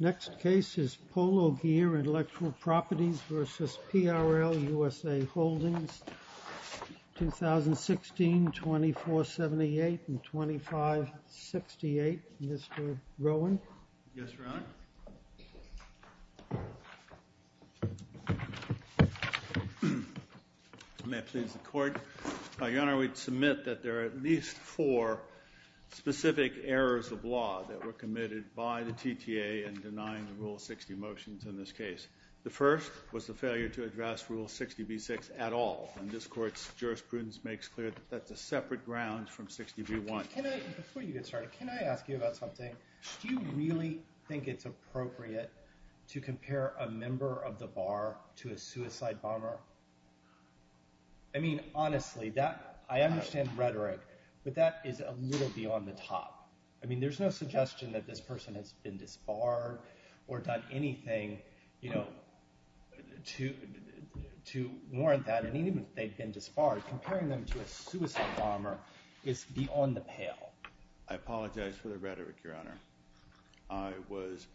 Next case is Polo Gear Intellectual Properties v. PRL USA Holdings, 2016, 2478 and 2568. Mr. Rowan? Yes, Your Honor. May it please the Court. Your Honor, we submit that there are at least four specific errors of law that were committed by the TTA in denying the Rule 60 motions in this case. The first was the failure to address Rule 60b-6 at all, and this Court's jurisprudence makes clear that that's a separate ground from 60b-1. Before you get started, can I ask you about something? Do you really think it's appropriate to compare a member of the Bar to a suicide bomber? I mean, honestly, I understand rhetoric, but that is a little beyond the top. I mean, there's no suggestion that this person has been disbarred or done anything, you know, to warrant that. And even if they've been disbarred, comparing them to a suicide bomber is beyond the pale. I apologize for the rhetoric, Your Honor. I was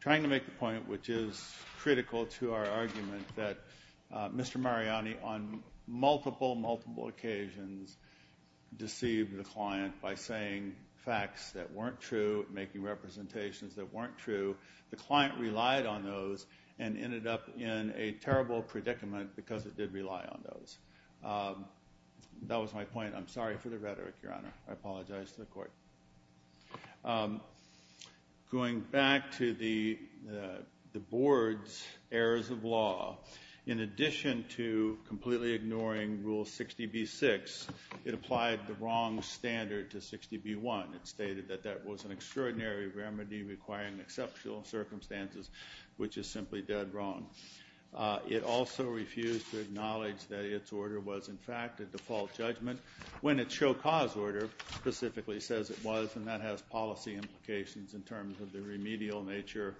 trying to make the point, which is critical to our argument, that Mr. Mariani, on multiple, multiple occasions, deceived the client by saying facts that weren't true, making representations that weren't true. The client relied on those and ended up in a terrible predicament because it did rely on those. That was my point. I'm sorry for the rhetoric, Your Honor. I apologize to the Court. Going back to the Board's errors of law, in addition to completely ignoring Rule 60b-6, it applied the wrong standard to 60b-1. It stated that that was an extraordinary remedy requiring exceptional circumstances, which is simply dead wrong. It also refused to acknowledge that its order was, in fact, a default judgment when its show cause order specifically says it was, and that has policy implications in terms of the remedial nature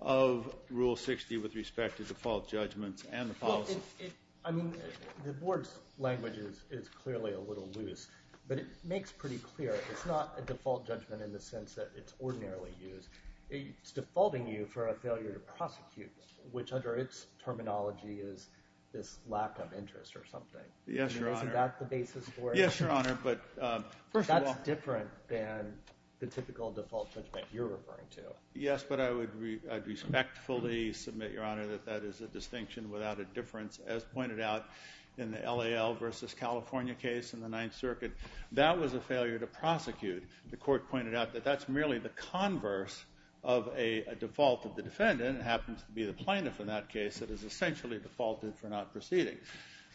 of Rule 60 with respect to default judgments and the policy. I mean, the Board's language is clearly a little loose, but it makes pretty clear it's not a default judgment in the sense that it's ordinarily used. It's defaulting you for a failure to prosecute, which under its terminology is this lack of interest or something. Yes, Your Honor. Isn't that the basis for it? Yes, Your Honor, but first of all— That's different than the typical default judgment you're referring to. Yes, but I would respectfully submit, Your Honor, that that is a distinction without a difference. As pointed out in the LAL versus California case in the Ninth Circuit, that was a failure to prosecute. The Court pointed out that that's merely the converse of a default of the defendant. It happens to be the plaintiff in that case that is essentially defaulted for not proceeding.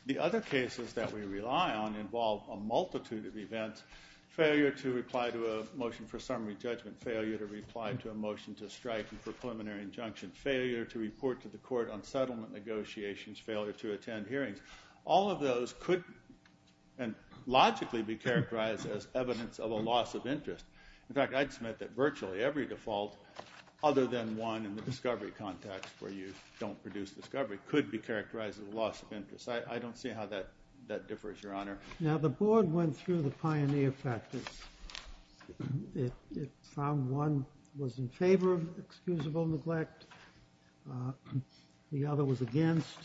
The other cases that we rely on involve a multitude of events—failure to reply to a motion for summary judgment, failure to reply to a motion to strike a preliminary injunction, failure to report to the Court on settlement negotiations, failure to attend hearings. All of those could logically be characterized as evidence of a loss of interest. In fact, I'd submit that virtually every default other than one in the discovery context where you don't produce discovery could be characterized as a loss of interest. I don't see how that differs, Your Honor. Now, the Board went through the pioneer practice. It found one was in favor of excusable neglect, the other was against,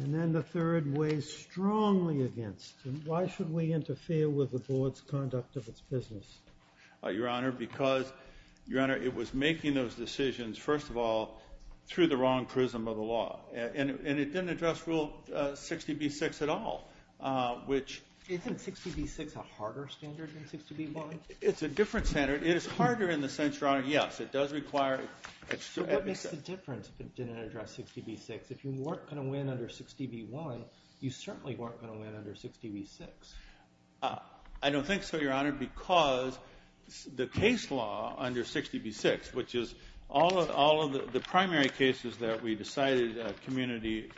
and then the third weighs strongly against. Why should we interfere with the Board's conduct of its business? Your Honor, because, Your Honor, it was making those decisions, first of all, through the wrong prism of the law. And it didn't address Rule 60b-6 at all, which— Isn't 60b-6 a harder standard than 60b-1? It's a different standard. It is harder in the sense, Your Honor, yes, it does require— So what makes the difference if it didn't address 60b-6? If you weren't going to win under 60b-1, you certainly weren't going to win under 60b-6. I don't think so, Your Honor, because the case law under 60b-6, which is all of the primary cases that we decided, community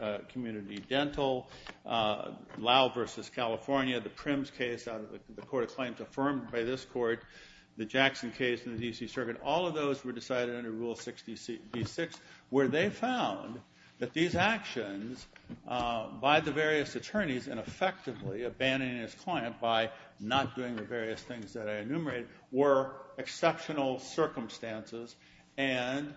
dental, Lowe v. California, the Primm's case, the court of claims affirmed by this court, the Jackson case in the D.C. Circuit, all of those were decided under Rule 60b-6, where they found that these actions by the various attorneys in effectively abandoning his client by not doing the various things that I enumerated were exceptional circumstances and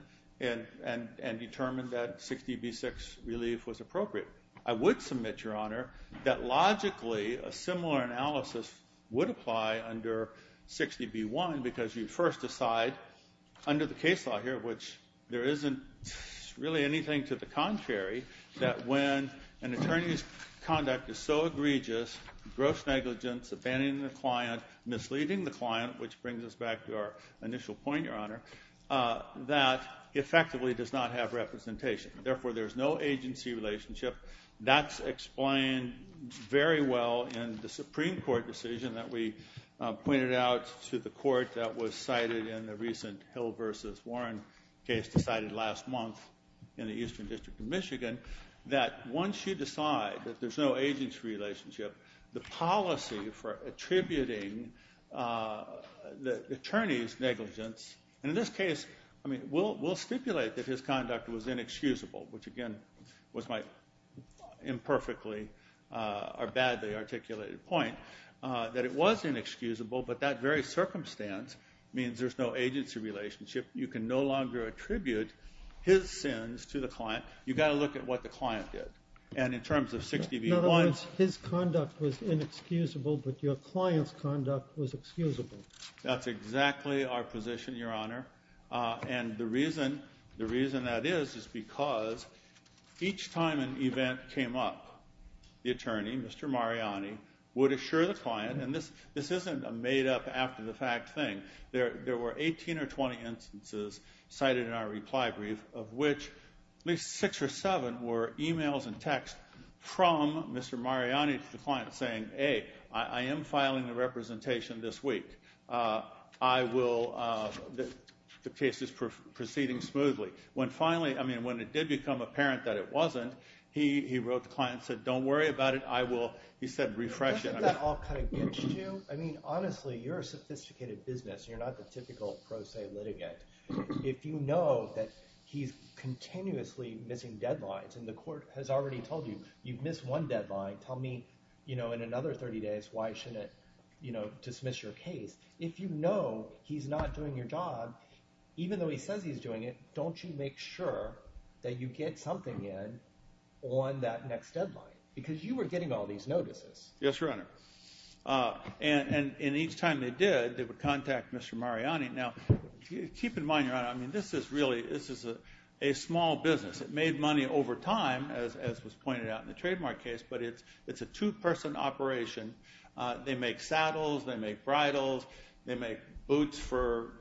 determined that 60b-6 relief was appropriate. I would submit, Your Honor, that logically a similar analysis would apply under 60b-1 because you first decide under the case law here, which there isn't really anything to the contrary, that when an attorney's conduct is so egregious, gross negligence, abandoning the client, misleading the client, which brings us back to our initial point, Your Honor, that effectively does not have representation. Therefore, there's no agency relationship. That's explained very well in the Supreme Court decision that we pointed out to the court that was cited in the recent Hill v. Warren case decided last month in the Eastern District of Michigan, that once you decide that there's no agency relationship, the policy for attributing the attorney's negligence, and in this case, I mean, we'll stipulate that his conduct was inexcusable. Which, again, was my imperfectly or badly articulated point, that it was inexcusable, but that very circumstance means there's no agency relationship. You can no longer attribute his sins to the client. You've got to look at what the client did. And in terms of 60b-1s— In other words, his conduct was inexcusable, but your client's conduct was excusable. That's exactly our position, Your Honor, and the reason that is is because each time an event came up, the attorney, Mr. Mariani, would assure the client—and this isn't a made-up, after-the-fact thing. There were 18 or 20 instances cited in our reply brief, of which at least six or seven were emails and texts from Mr. Mariani to the client saying, hey, I am filing the representation this week. The case is proceeding smoothly. When finally—I mean, when it did become apparent that it wasn't, he wrote the client and said, don't worry about it. He said, refresh it. I mean, honestly, you're a sophisticated business, and you're not the typical pro se litigant. If you know that he's continuously missing deadlines, and the court has already told you, you've missed one deadline, tell me in another 30 days why I shouldn't dismiss your case. If you know he's not doing your job, even though he says he's doing it, don't you make sure that you get something in on that next deadline? Because you were getting all these notices. Yes, Your Honor. And each time they did, they would contact Mr. Mariani. Now, keep in mind, Your Honor, I mean, this is really—this is a small business. It made money over time, as was pointed out in the trademark case, but it's a two-person operation. They make saddles. They make bridles. They make boots for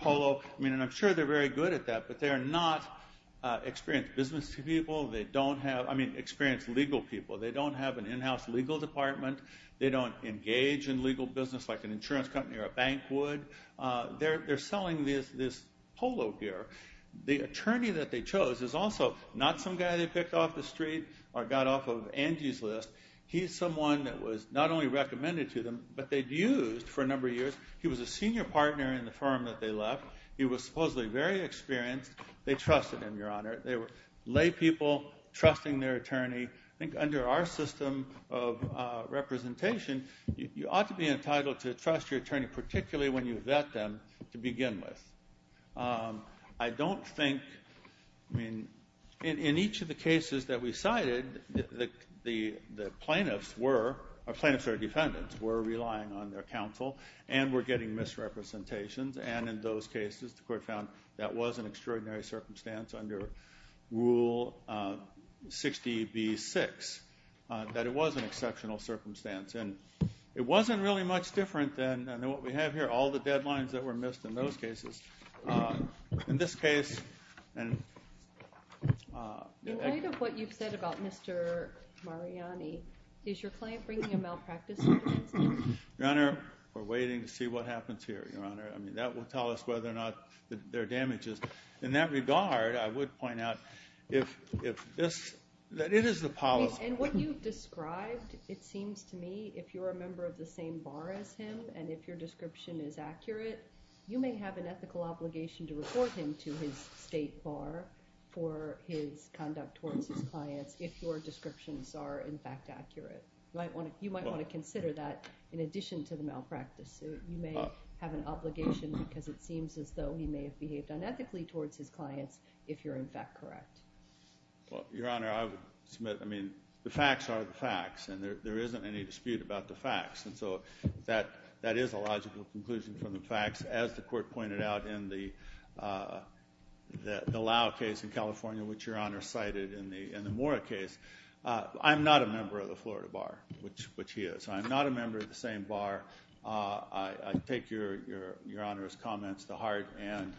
polo. I mean, and I'm sure they're very good at that, but they are not experienced business people. They don't have—I mean, experienced legal people. They don't have an in-house legal department. They don't engage in legal business like an insurance company or a bank would. They're selling this polo gear. The attorney that they chose is also not some guy they picked off the street or got off of Angie's list. He's someone that was not only recommended to them, but they'd used for a number of years. He was a senior partner in the firm that they left. He was supposedly very experienced. They trusted him, Your Honor. They were lay people trusting their attorney. I think under our system of representation, you ought to be entitled to trust your attorney, particularly when you vet them to begin with. I don't think—I mean, in each of the cases that we cited, the plaintiffs were— or plaintiffs or defendants were relying on their counsel and were getting misrepresentations, and in those cases the court found that was an extraordinary circumstance under Rule 60b-6, that it was an exceptional circumstance. And it wasn't really much different than what we have here, all the deadlines that were missed in those cases. In this case— In light of what you've said about Mr. Mariani, is your client bringing a malpractice case? Your Honor, we're waiting to see what happens here, Your Honor. I mean, that will tell us whether or not there are damages. In that regard, I would point out that it is the policy— And what you've described, it seems to me, if you're a member of the same bar as him, and if your description is accurate, you may have an ethical obligation to report him to his state bar for his conduct towards his clients if your descriptions are, in fact, accurate. You might want to consider that in addition to the malpractice suit. You may have an obligation because it seems as though he may have behaved unethically towards his clients if you're, in fact, correct. Well, Your Honor, I would submit—I mean, the facts are the facts, and there isn't any dispute about the facts. And so that is a logical conclusion from the facts. As the court pointed out in the Lau case in California, which Your Honor cited in the Mora case, I'm not a member of the Florida bar, which he is. I'm not a member of the same bar. I take Your Honor's comments to heart. And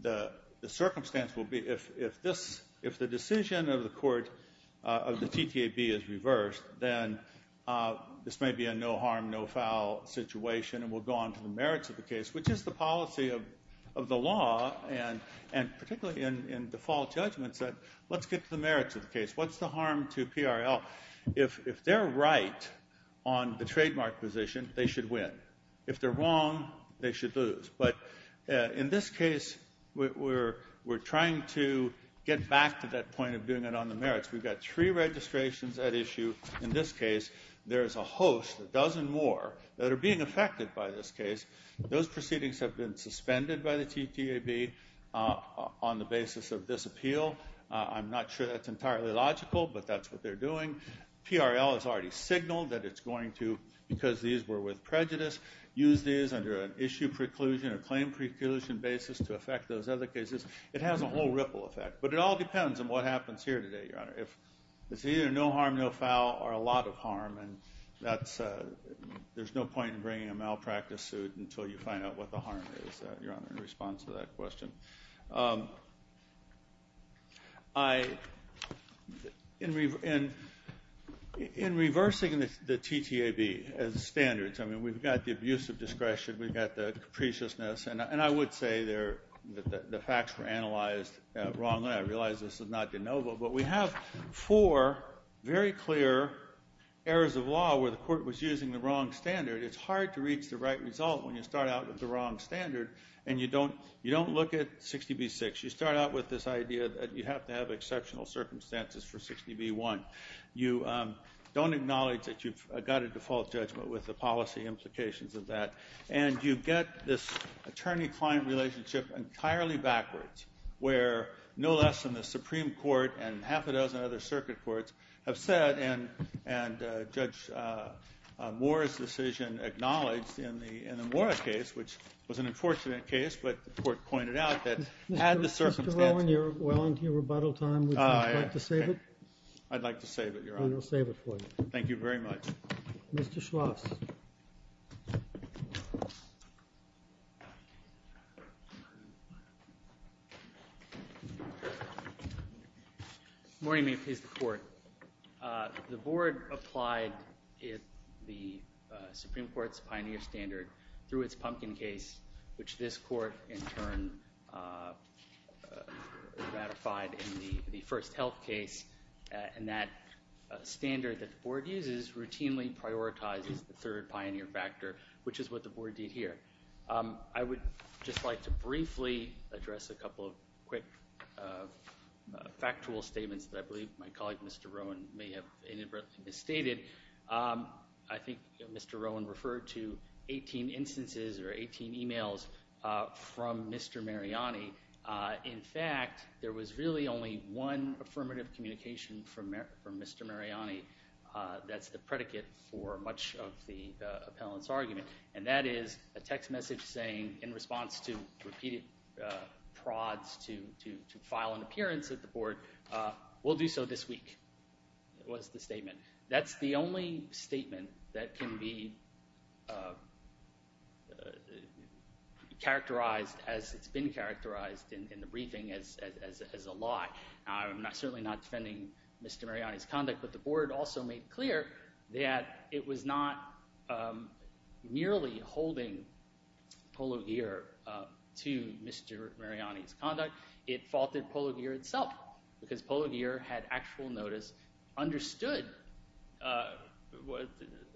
the circumstance will be if the decision of the TTAB is reversed, then this may be a no-harm, no-foul situation, and we'll go on to the merits of the case, which is the policy of the law, and particularly in default judgments, that let's get to the merits of the case. What's the harm to PRL? If they're right on the trademark position, they should win. If they're wrong, they should lose. But in this case, we're trying to get back to that point of doing it on the merits. We've got three registrations at issue in this case. There is a host, a dozen more, that are being affected by this case. Those proceedings have been suspended by the TTAB on the basis of this appeal. I'm not sure that's entirely logical, but that's what they're doing. PRL has already signaled that it's going to, because these were with prejudice, use these under an issue preclusion or claim preclusion basis to affect those other cases. It has a whole ripple effect, but it all depends on what happens here today, Your Honor. It's either no harm, no foul, or a lot of harm, and there's no point in bringing a malpractice suit until you find out what the harm is, Your Honor, in response to that question. In reversing the TTAB standards, we've got the abuse of discretion. We've got the capriciousness, and I would say the facts were analyzed wrongly. I realize this is not de novo, but we have four very clear errors of law where the court was using the wrong standard. It's hard to reach the right result when you start out with the wrong standard, and you don't look at 60B-6. You start out with this idea that you have to have exceptional circumstances for 60B-1. You don't acknowledge that you've got a default judgment with the policy implications of that, and you get this attorney-client relationship entirely backwards, where no less than the Supreme Court and half a dozen other circuit courts have said, and Judge Moore's decision acknowledged in the Morris case, which was an unfortunate case, but the court pointed out that had the circumstances been different. Mr. Rowan, you're well into your rebuttal time. Would you like to save it? I'd like to save it, Your Honor. Then we'll save it for you. Thank you very much. Mr. Schloss. Good morning. May it please the Court. The Board applied the Supreme Court's pioneer standard through its Pumpkin case, which this Court in turn ratified in the first health case, and that standard that the Board uses routinely prioritizes the third pioneer factor, which is what the Board did here. I would just like to briefly address a couple of quick factual statements that I believe my colleague, Mr. Rowan, may have inadvertently misstated. I think Mr. Rowan referred to 18 instances or 18 e-mails from Mr. Mariani. In fact, there was really only one affirmative communication from Mr. Mariani that's the predicate for much of the appellant's argument, and that is a text message saying, in response to repeated prods to file an appearance at the Board, we'll do so this week was the statement. That's the only statement that can be characterized as it's been characterized in the briefing as a lie. I'm certainly not defending Mr. Mariani's conduct, but the Board also made clear that it was not merely holding Polo Gear to Mr. Mariani's conduct. It faulted Polo Gear itself because Polo Gear had actual notice, understood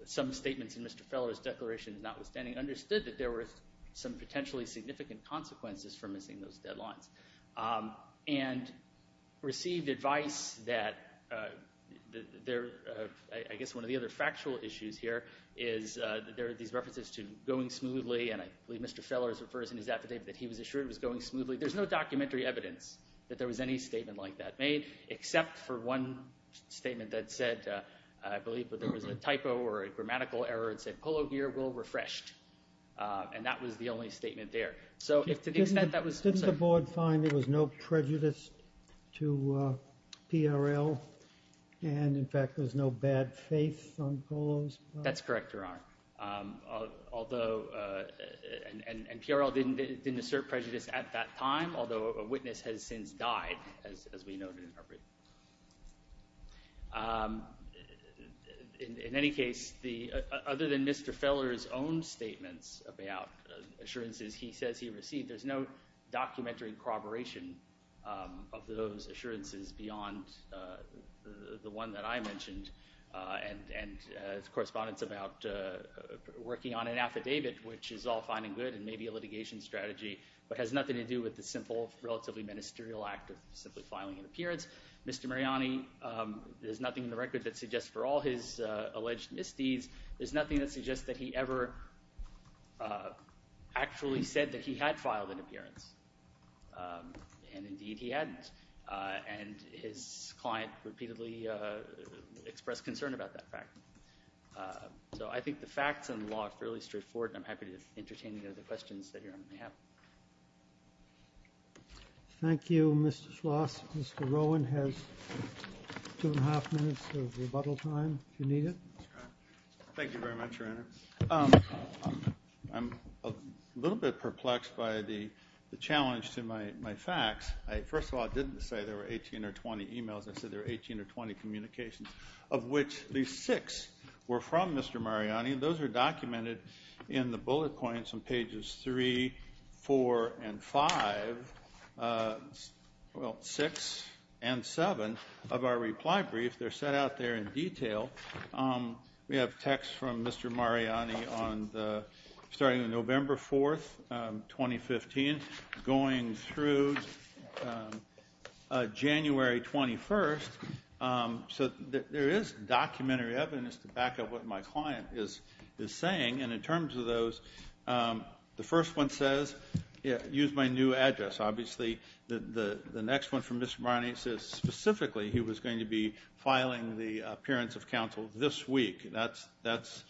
some statements in Mr. Feller's declaration notwithstanding, understood that there were some potentially significant consequences for missing those deadlines, and received advice that I guess one of the other factual issues here is there are these references to going smoothly, and I believe Mr. Feller refers in his affidavit that he was assured it was going smoothly. There's no documentary evidence that there was any statement like that made, except for one statement that said, I believe there was a typo or a grammatical error, it said Polo Gear will refresh, and that was the only statement there. Didn't the Board find there was no prejudice to PRL, and in fact there was no bad faith on Polo's part? That's correct, Your Honor, and PRL didn't assert prejudice at that time, although a witness has since died, as we know to interpret. In any case, other than Mr. Feller's own statements about assurances he says he received, there's no documentary corroboration of those assurances beyond the one that I mentioned, and correspondence about working on an affidavit, which is all fine and good and maybe a litigation strategy, but has nothing to do with the simple, relatively ministerial act of simply filing an appearance. Mr. Mariani, there's nothing in the record that suggests for all his alleged misdeeds, there's nothing that suggests that he ever actually said that he had filed an appearance, and indeed he hadn't, and his client repeatedly expressed concern about that fact. So I think the facts in the law are fairly straightforward, and I'm happy to entertain any other questions that Your Honor may have. Thank you, Mr. Schloss. Mr. Rowan has two and a half minutes of rebuttal time if you need it. Thank you very much, Your Honor. I'm a little bit perplexed by the challenge to my facts. First of all, I didn't say there were 18 or 20 e-mails. I said there were 18 or 20 communications, of which at least six were from Mr. Mariani. Those are documented in the bullet points on pages 3, 4, and 5, well, 6 and 7 of our reply brief. We have texts from Mr. Mariani starting on November 4th, 2015, going through January 21st. So there is documentary evidence to back up what my client is saying. And in terms of those, the first one says, use my new address. Obviously, the next one from Mr. Mariani says specifically he was going to be filing the appearance of counsel this week. That's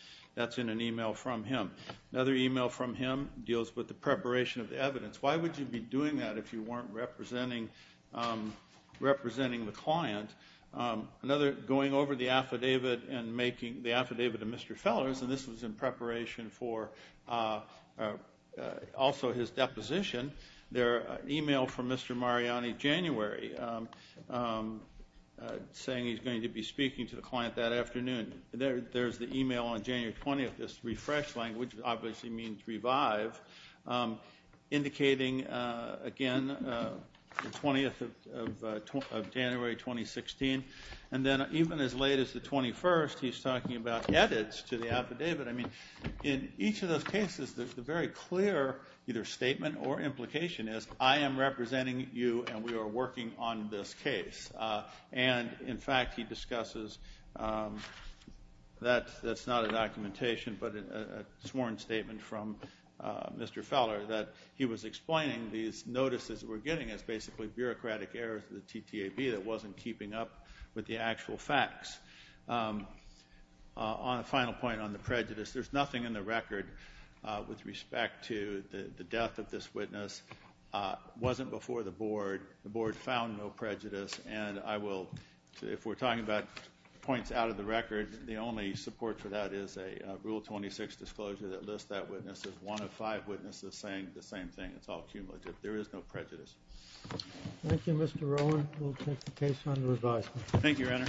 in an e-mail from him. Another e-mail from him deals with the preparation of the evidence. Why would you be doing that if you weren't representing the client? Another, going over the affidavit and making the affidavit to Mr. Fellers, and this was in preparation for also his deposition, their e-mail from Mr. Mariani January, saying he's going to be speaking to the client that afternoon. There's the e-mail on January 20th, this refresh language, which obviously means revive, indicating, again, the 20th of January, 2016. And then even as late as the 21st, he's talking about edits to the affidavit. I mean, in each of those cases, the very clear either statement or implication is, I am representing you and we are working on this case. And, in fact, he discusses that's not a documentation but a sworn statement from Mr. Feller that he was explaining these notices we're getting as basically bureaucratic errors of the TTAB that wasn't keeping up with the actual facts. On a final point on the prejudice, there's nothing in the record with respect to the death of this witness. It wasn't before the Board. The Board found no prejudice, and I will, if we're talking about points out of the record, the only support for that is a Rule 26 disclosure that lists that witness as one of five witnesses saying the same thing. It's all cumulative. There is no prejudice. Thank you, Mr. Rowland. We'll take the case under advisement. Thank you, Your Honor.